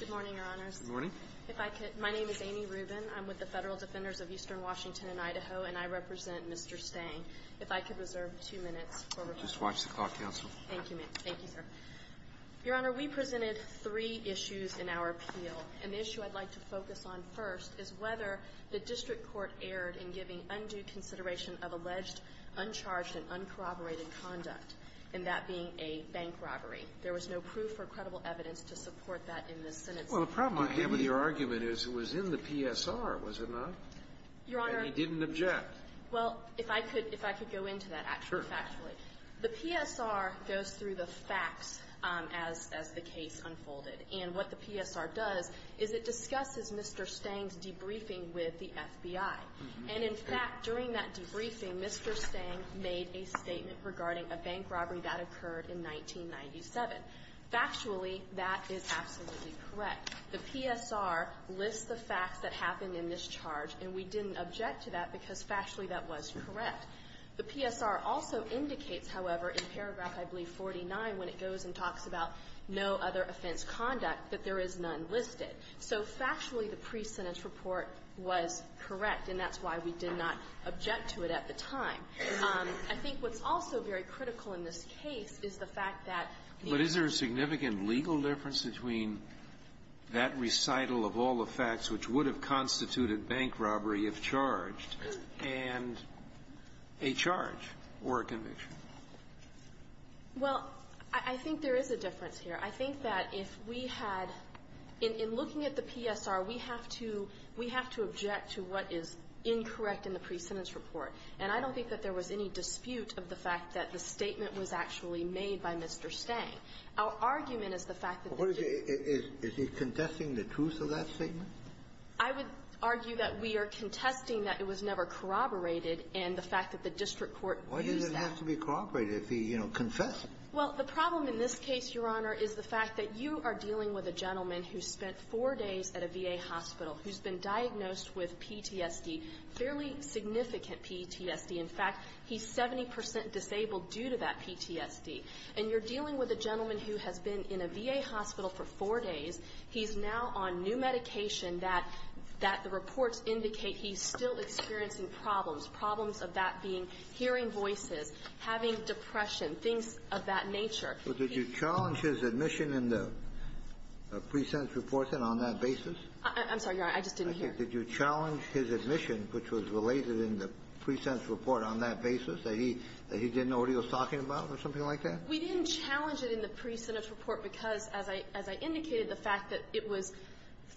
Good morning, Your Honors. Good morning. My name is Amy Rubin. I'm with the Federal Defenders of Eastern Washington and Idaho, and I represent Mr. Stange. If I could reserve two minutes for reflection. Just watch the clock, Counsel. Thank you, sir. Your Honor, we presented three issues in our appeal, and the issue I'd like to focus on first is whether the district court erred in giving undue consideration of alleged, uncharged, and uncorroborated conduct, and that being a bank robbery. There was no proof or credible evidence to support that in this sentence. Well, the problem I have with your argument is it was in the PSR, was it not? Your Honor — And he didn't object. Well, if I could — if I could go into that, actually, factually. Sure. The PSR goes through the facts as the case unfolded, and what the PSR does is it discusses Mr. Stange's debriefing with the FBI. And, in fact, during that debriefing, Mr. Stange made a statement regarding a bank robbery that occurred in 1997. Factually, that is absolutely correct. The PSR lists the facts that happened in this charge, and we didn't object to that because, factually, that was correct. The PSR also indicates, however, in paragraph, I believe, 49, when it goes and talks about no other offense conduct, that there is none listed. So factually, the pre-sentence report was correct, and that's why we did not object to it at the time. I think what's also very critical in this case is the fact that the — But is there a significant legal difference between that recital of all the facts which would have constituted bank robbery if charged — And a charge or a conviction. Well, I think there is a difference here. I think that if we had — in looking at the PSR, we have to — we have to object to what is incorrect in the pre-sentence report. And I don't think that there was any dispute of the fact that the statement was actually made by Mr. Stange. Our argument is the fact that the — Is he contesting the truth of that statement? I would argue that we are contesting that it was never corroborated, and the fact that the district court views that. Why does it have to be corroborated if he, you know, confessed? Well, the problem in this case, Your Honor, is the fact that you are dealing with a gentleman who spent four days at a VA hospital, who's been diagnosed with PTSD, fairly significant PTSD. In fact, he's 70 percent disabled due to that PTSD. And you're dealing with a gentleman who has been in a VA hospital for four days. He's now on new medication that — that the reports indicate he's still experiencing problems, problems of that being hearing voices, having depression, things of that nature. So did you challenge his admission in the pre-sentence report then on that basis? I'm sorry, Your Honor. I just didn't hear. Did you challenge his admission, which was related in the pre-sentence report, on that basis, that he — that he didn't know what he was talking about or something like that? We didn't challenge it in the pre-sentence report because, as I — as I indicated, the fact that it was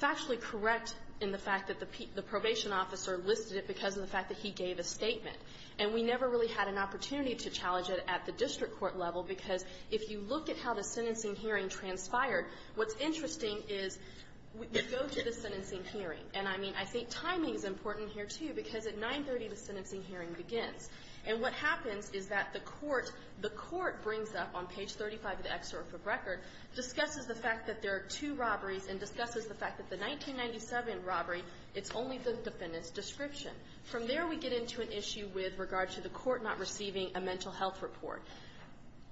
factually correct in the fact that the probation officer listed it because of the fact that he gave a statement. And we never really had an opportunity to challenge it at the district court level because if you look at how the sentencing hearing transpired, what's interesting is we go to the sentencing hearing. And, I mean, I think timing is important here, too, because at 930, the sentencing hearing begins. And what happens is that the court — the court brings up, on page 35 of the excerpt of record, discusses the fact that there are two robberies and discusses the fact that the 1997 robbery, it's only the defendant's description. From there, we get into an issue with regard to the court not receiving a mental health report.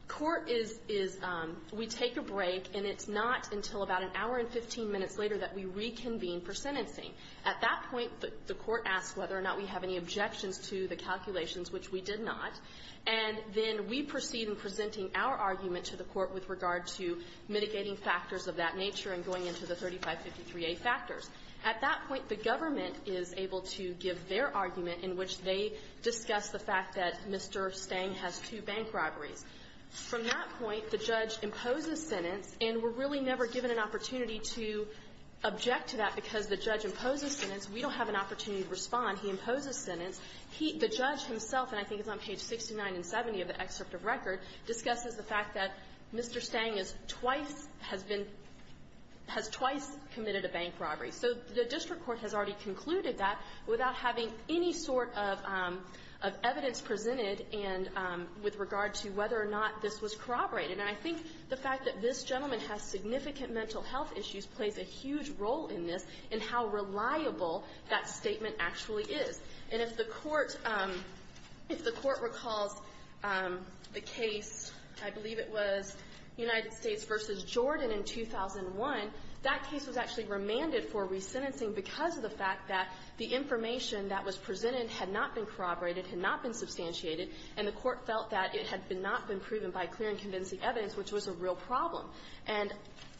Court is — is — we take a break, and it's not until about an hour and 15 minutes later that we reconvene for sentencing. At that point, the court asks whether or not we have any objections to the calculations which we did not. And then we proceed in presenting our argument to the court with regard to mitigating factors of that nature and going into the 3553A factors. At that point, the government is able to give their argument in which they discuss the fact that Mr. Stang has two bank robberies. From that point, the judge imposes sentence, and we're really never given an opportunity to object to that because the judge imposes sentence. We don't have an opportunity to respond. He imposes sentence. He — the judge himself, and I think it's on page 69 and 70 of the excerpt of record, discusses the fact that Mr. Stang has twice — has been — has twice committed a bank robbery. So the district court has already concluded that without having any sort of — of evidence presented and with regard to whether or not this was corroborated. And I think the fact that this gentleman has significant mental health issues plays a huge role in this in how reliable that statement actually is. And if the Court — if the Court recalls the case, I believe it was United States v. Jordan in 2001, that case was actually remanded for resentencing because of the fact that the information that was presented had not been corroborated, had not been substantiated, and the Court felt that it had not been proven by clear and convincing evidence, which was a real problem. And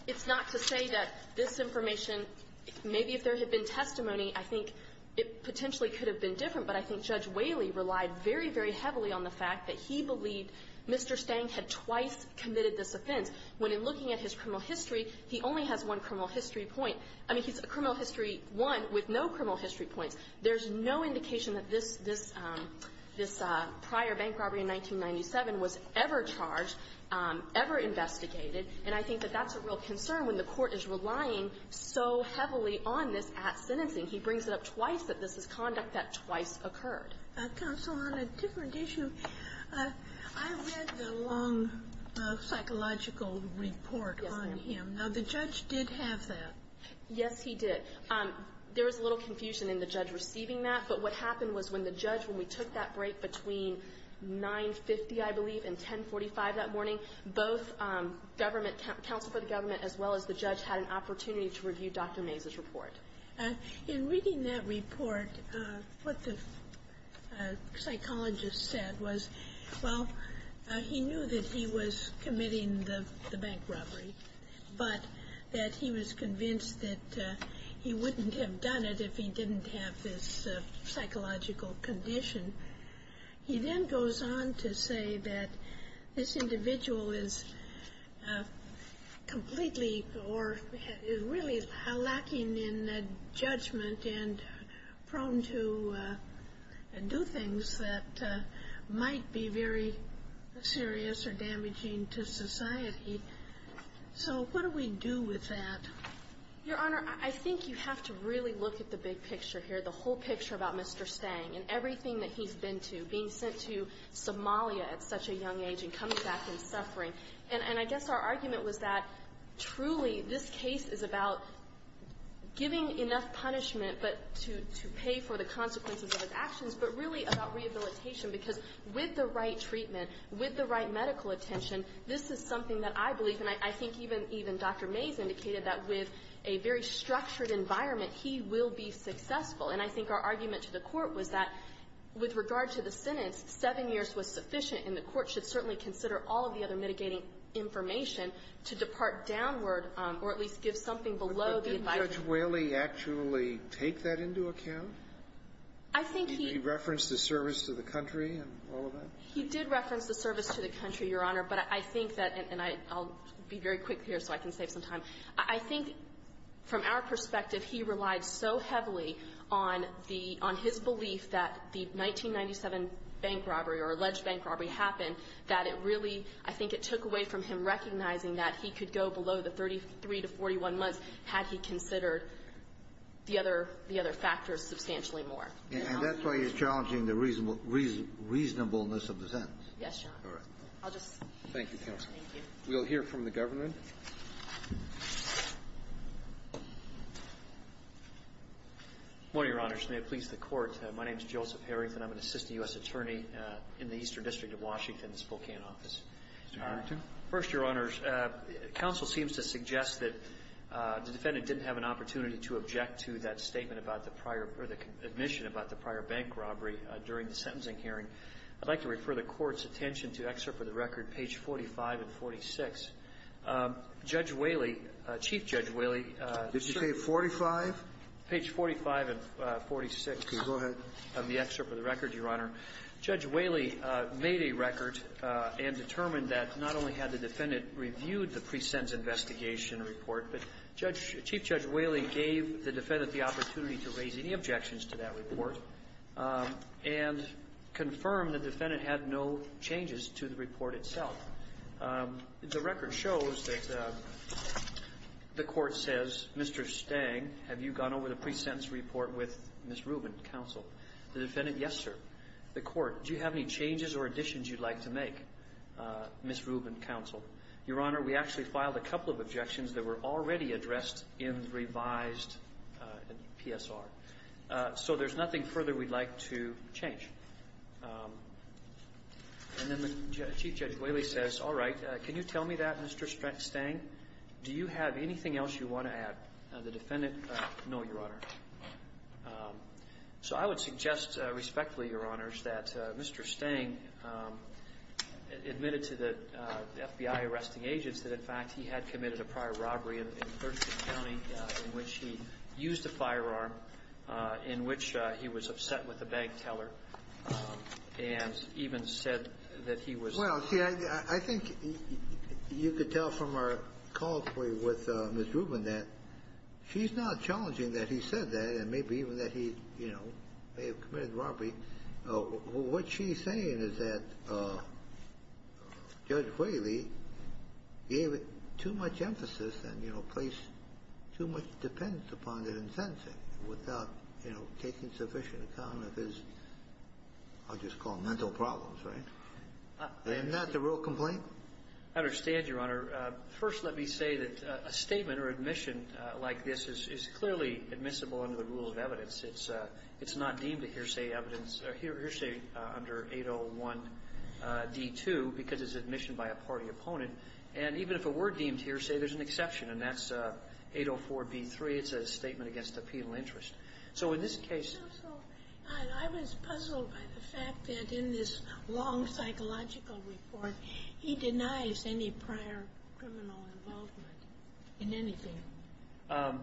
it's not to say that this information, maybe if there had been testimony, I think it potentially could have been different, but I think Judge Whaley relied very, very heavily on the fact that he believed Mr. Stang had twice committed this offense, when in looking at his criminal history, he only has one criminal history point. I mean, he's — criminal history one with no criminal history points. There's no indication that this — this prior bank robbery in 1997 was ever charged, ever investigated. And I think that that's a real concern when the Court is relying so heavily on this at sentencing. He brings it up twice that this is conduct that twice occurred. Sotomayor, on a different issue, I read the long psychological report on him. Now, the judge did have that. Yes, he did. There was a little confusion in the judge receiving that, but what happened was when the judge — when we took that break between 9.50, I believe, and 10.45 that morning, both government — counsel for the government, as well as the judge, had an opportunity to review Dr. Mays's report. In reading that report, what the psychologist said was, well, he knew that he was committing the bank robbery, but that he was convinced that he wouldn't have done it if he didn't have this psychological condition. He then goes on to say that this individual is completely or really lacking in judgment and prone to do things that might be very serious or damaging to society. So what do we do with that? Your Honor, I think you have to really look at the big picture here, the whole picture about Mr. Stang and everything that he's been to, being sent to Somalia at such a young age and coming back and suffering. And I guess our argument was that, truly, this case is about giving enough punishment but to pay for the consequences of his actions, but really about rehabilitation, because with the right treatment, with the right medical attention, this is something that I believe, and I think even Dr. Mays indicated, that with a very structured environment, he will be successful. And I think our argument to the Court was that, with regard to the sentence, seven years was sufficient, and the Court should certainly consider all of the other mitigating information to depart downward or at least give something below the advice that he gave. Sotomayor, did Judge Whaley actually take that into account? I think he — Did he reference the service to the country and all of that? He did reference the service to the country, Your Honor. But I think that — and I'll be very quick here so I can save some time. I think, from our perspective, he relied so heavily on the — on his belief that the 1997 bank robbery or alleged bank robbery happened, that it really — I think it took away from him recognizing that he could go below the 33 to 41 months had he considered the other factors substantially more. And that's why you're challenging the reasonableness of the sentence. Yes, Your Honor. All right. I'll just — Thank you, counsel. Thank you. We'll hear from the government. Good morning, Your Honors. May it please the Court. My name is Joseph Harrington. I'm an assistant U.S. attorney in the Eastern District of Washington, the Spokane office. Mr. Harrington. First, Your Honors, counsel seems to suggest that the defendant didn't have an opportunity to object to that statement about the prior — or the admission about the prior bank robbery during the sentencing hearing. I'd like to refer the Court's attention to excerpt of the record, page 45 and 46. Judge Whaley — Chief Judge Whaley — Did you say 45? Page 45 and 46. Okay. Go ahead. Of the excerpt of the record, Your Honor. Judge Whaley made a record and determined that not only had the defendant reviewed the pre-sentence investigation report, but Judge — Chief Judge Whaley gave the defendant the opportunity to raise any objections to that report and confirm the defendant had no changes to the report itself. The record shows that the Court says, Mr. Stang, have you gone over the pre-sentence report with Ms. Rubin, counsel? The defendant, yes, sir. The Court, do you have any changes or additions you'd like to make, Ms. Rubin, counsel? Your Honor, we actually filed a couple of objections that were already addressed in revised PSR. So there's nothing further we'd like to change. And then Chief Judge Whaley says, all right, can you tell me that, Mr. Stang? Do you have anything else you want to add? The defendant, no, Your Honor. So I would suggest respectfully, Your Honors, that Mr. Stang admitted to the FBI arresting a guy in which he used a firearm, in which he was upset with a bank teller, and even said that he was — Well, see, I think you could tell from our calls with Ms. Rubin that she's not challenging that he said that, and maybe even that he, you know, may have committed robbery. What she's saying is that Judge Whaley gave it too much emphasis and, you know, placed too much dependence upon it in sentencing without, you know, taking sufficient account of his, I'll just call him mental problems, right? Isn't that the real complaint? I understand, Your Honor. First, let me say that a statement or admission like this is clearly admissible under the rule of evidence. It's not deemed a hearsay evidence — hearsay under 801D2 because it's admission by a party opponent. And even if it were deemed hearsay, there's an exception, and that's 804B3. It's a statement against a penal interest. So in this case — Counsel, I was puzzled by the fact that in this long psychological report, he denies any prior criminal involvement in anything.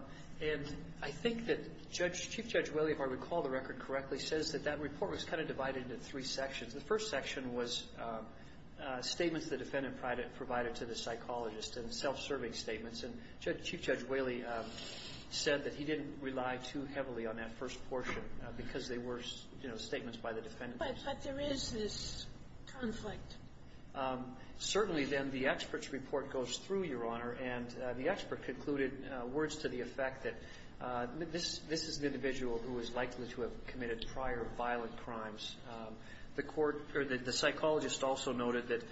And I think that Judge — Chief Judge Whaley, if I recall the record correctly, says that that report was kind of divided into three sections. The first section was statements the defendant provided to the psychologist and self-serving statements. And Chief Judge Whaley said that he didn't rely too heavily on that first portion because they were, you know, statements by the defendant. But there is this conflict. Certainly, then, the expert's report goes through, Your Honor, and the expert concluded words to the effect that this is an individual who is likely to have committed prior violent crimes. The court — or the psychologist also noted that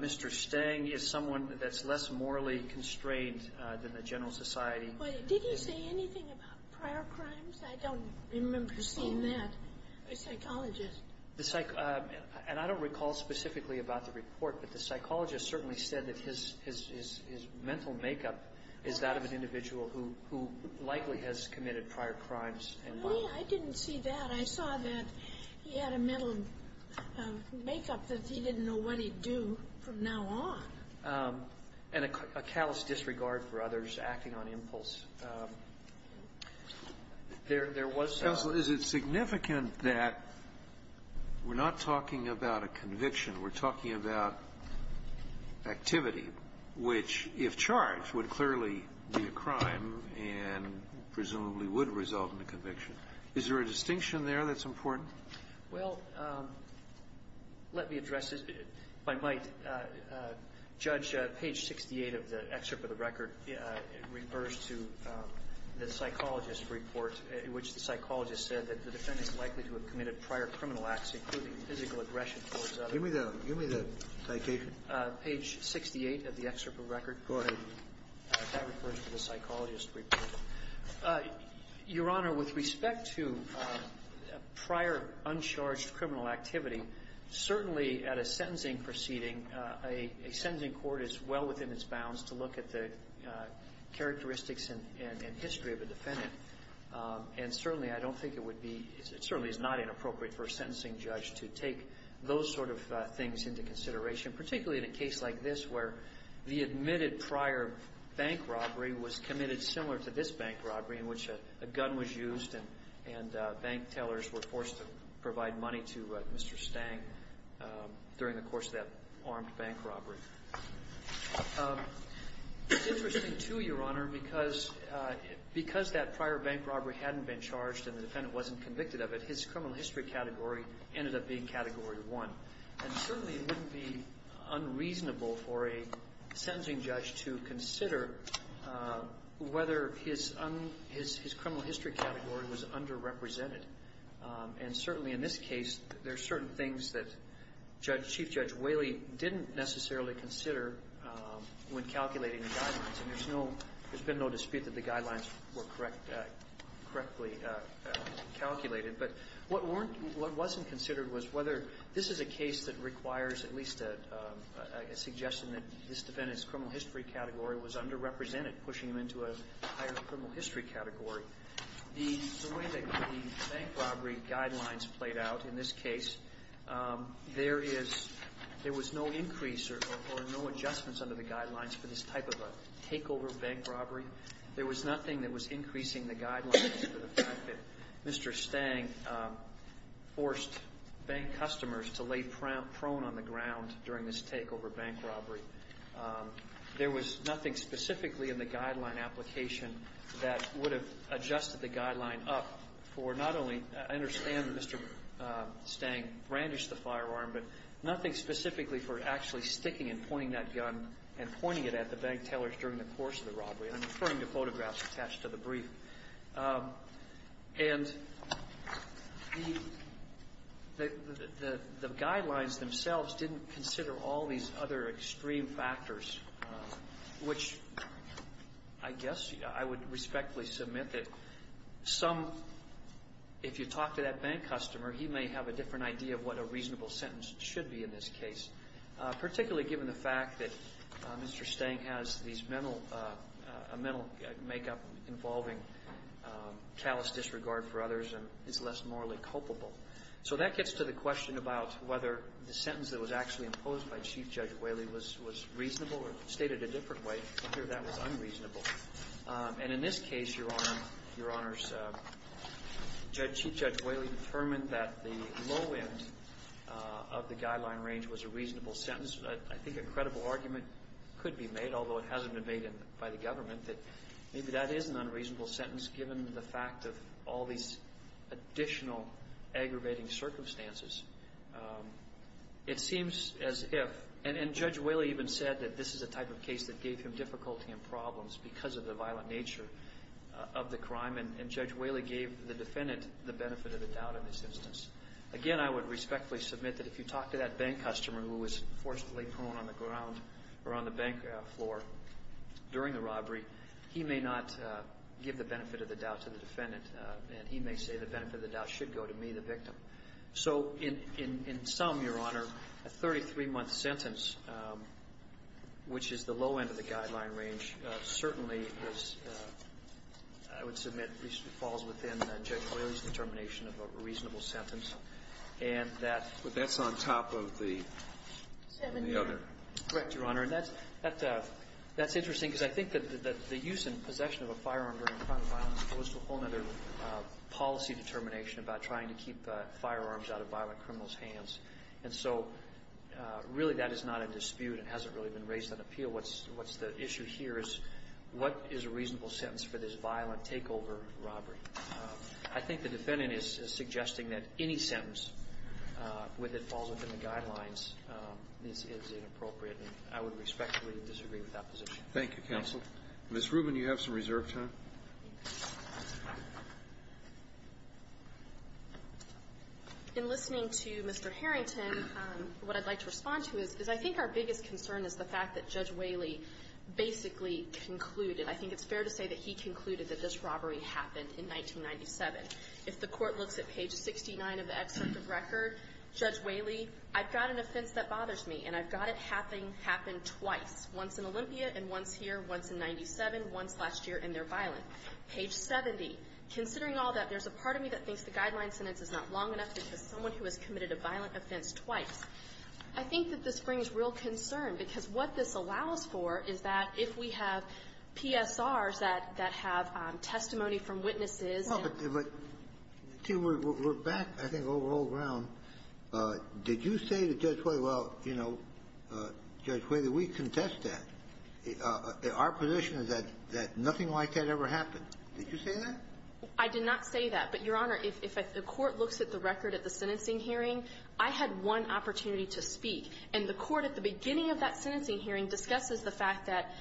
Mr. Stang is someone that's less morally constrained than the general society. Wait. Did he say anything about prior crimes? I don't remember seeing that. A psychologist. The — and I don't recall specifically about the report, but the psychologist certainly said that his — his — his mental makeup is that of an individual who — who likely has committed prior crimes and violent — I didn't see that. I saw that he had a mental makeup that he didn't know what he'd do from now on. And a callous disregard for others, acting on impulse. There — there was — Counsel, is it significant that we're not talking about a conviction? We're talking about activity, which, if charged, would clearly be a crime and presumably would result in a conviction. Is there a distinction there that's important? Well, let me address this, if I might. Judge, page 68 of the excerpt of the record refers to the psychologist's report in which the psychologist said that the defendant is likely to have committed prior criminal acts, including physical aggression towards others. Give me the — give me the citation. Page 68 of the excerpt of the record. Go ahead. That refers to the psychologist's report. Your Honor, with respect to prior uncharged criminal activity, certainly at a sentencing proceeding, a sentencing court is well within its bounds to look at the characteristics and — and history of a defendant. And certainly, I don't think it would be — it certainly is not inappropriate for a sentencing judge to take those sort of things into consideration, particularly in a case like this where the admitted prior bank robbery was committed similar to this bank robbery in which a gun was used and — and bank tellers were forced to provide money to Mr. Stang during the course of that armed bank robbery. It's interesting, too, Your Honor, because — because that prior bank robbery hadn't been charged and the defendant wasn't convicted of it, his criminal history category ended up being Category 1. And certainly, it wouldn't be unreasonable for a sentencing judge to consider whether his — his criminal history category was underrepresented. And certainly, in this case, there are certain things that Judge — Chief Judge Whaley didn't necessarily consider when calculating the guidelines. And there's no — there's been no dispute that the guidelines were correct — correctly calculated. But what weren't — what wasn't considered was whether — this is a case that requires at least a — a suggestion that this defendant's criminal history category was underrepresented, pushing him into a higher criminal history category. The — the way that the bank robbery guidelines played out in this case, there is — there was no increase or — or no adjustments under the guidelines for this type of a takeover bank robbery. There was nothing that was increasing the guidelines for the fact that Mr. Stang forced bank customers to lay prone on the ground during this takeover bank robbery. There was nothing specifically in the guideline application that would have adjusted the guideline up for not only — I understand that Mr. Stang brandished the firearm, but nothing specifically for actually sticking and pointing that gun and pointing it at the bank tailors during the course of the robbery. And I'm referring to photographs attached to the brief. And the — the guidelines themselves didn't consider all these other extreme factors, which I guess I would respectfully submit that some — if you talk to that bank customer, he may have a different idea of what a reasonable sentence should be in this case, particularly given the fact that Mr. Stang has these mental — a mental makeup involving callous disregard for others and is less morally culpable. So that gets to the question about whether the sentence that was actually imposed by Chief Judge Whaley was — was reasonable or stated a different way, or whether that was unreasonable. And in this case, Your Honor, Your Honors, Chief Judge Whaley determined that the low end of the guideline range was a reasonable sentence. I think a credible argument could be made, although it hasn't been made by the government, that maybe that is an unreasonable sentence given the fact of all these additional aggravating circumstances. It seems as if — and Judge Whaley even said that this is a type of case that gave him difficulty and problems because of the violent nature of the crime. And Judge Whaley gave the defendant the benefit of the doubt in this instance. Again, I would respectfully submit that if you talk to that bank customer who was forcibly thrown on the ground or on the bank floor during the robbery, he may not give the benefit of the doubt to the defendant. And he may say the benefit of the doubt should go to me, the victim. So in — in some, Your Honor, a 33-month sentence, which is the low end of the guideline range, certainly was — I would submit at least it falls within Judge Whaley's determination of a reasonable sentence. And that — But that's on top of the — Seven-year. Correct, Your Honor. And that's — that's interesting because I think that the use and possession of a firearm during a crime of violence goes to a whole other policy determination about trying to keep firearms out of violent criminals' hands. And so, really, that is not a dispute. It hasn't really been raised on appeal. What's — what's the issue here is what is a reasonable sentence for this violent takeover robbery? I think the defendant is suggesting that any sentence with it falls within the guidelines is inappropriate. And I would respectfully disagree with that position. Thank you, counsel. Ms. Rubin, you have some reserve time. In listening to Mr. Harrington, what I'd like to respond to is, is I think our biggest concern is the fact that Judge Whaley basically concluded — I think it's fair to say that he concluded that this robbery happened in 1997. If the Court looks at page 69 of the excerpt of record, Judge Whaley, I've got an offense that bothers me, and I've got it happening — happened twice, once in Olympia and once here, once in 97, once last year in their violent. Page 70, considering all that, there's a part of me that thinks the guideline sentence is not long enough because someone who has committed a violent offense twice. I think that this brings real concern, because what this allows for is that if we have PSRs that — that have testimony from witnesses and — Well, but — but, Tim, we're — we're back, I think, over old ground. Did you say to Judge Whaley — well, you know, Judge Whaley, we contest that. Our position is that — that nothing like that ever happened. Did you say that? I did not say that. But, Your Honor, if the Court looks at the record at the sentencing hearing, I had one opportunity to speak, and the Court at the beginning of that sentencing hearing discusses the fact that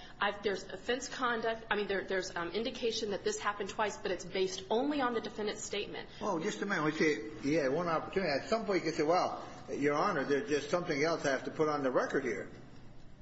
there's offense conduct — I mean, there's indication that this happened twice, but it's based only on the defendant's statement. Well, just a minute. We say, yeah, one opportunity. At some point, you say, well, Your Honor, there's something else I have to put on the record here.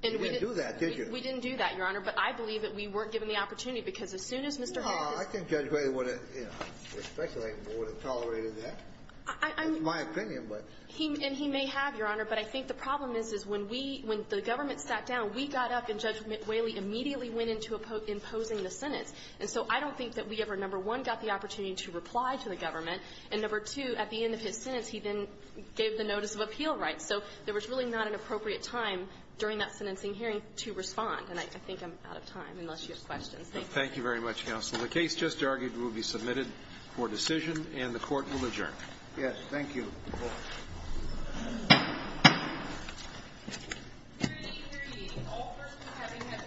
You didn't do that, did you? We didn't do that, Your Honor. But I believe that we weren't given the opportunity, because as soon as Mr. Harris — Well, I think Judge Whaley would have, you know, I'm speculating, would have tolerated that. I — I mean — It's my opinion, but — And he may have, Your Honor. But I think the problem is, is when we — when the government sat down, we got up and Judge Whaley immediately went into imposing the sentence. And so I don't think that we ever, number one, got the opportunity to reply to the government, and, number two, at the end of his sentence, he then gave the notice of appeal rights. So there was really not an appropriate time during that sentencing hearing to respond. And I think I'm out of time, unless you have questions. Thank you. Thank you very much, Counsel. The case just argued will be submitted for decision, and the Court will adjourn. Yes. Thank you. You're welcome. Your Honor. Your Honor.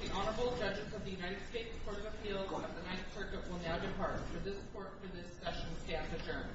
Your Honor. Your Honor. Your Honor. Your Honor. Your Honor. Your Honor. Your Honor. Your Honor. Your Honor. Your Honor. Your Honor.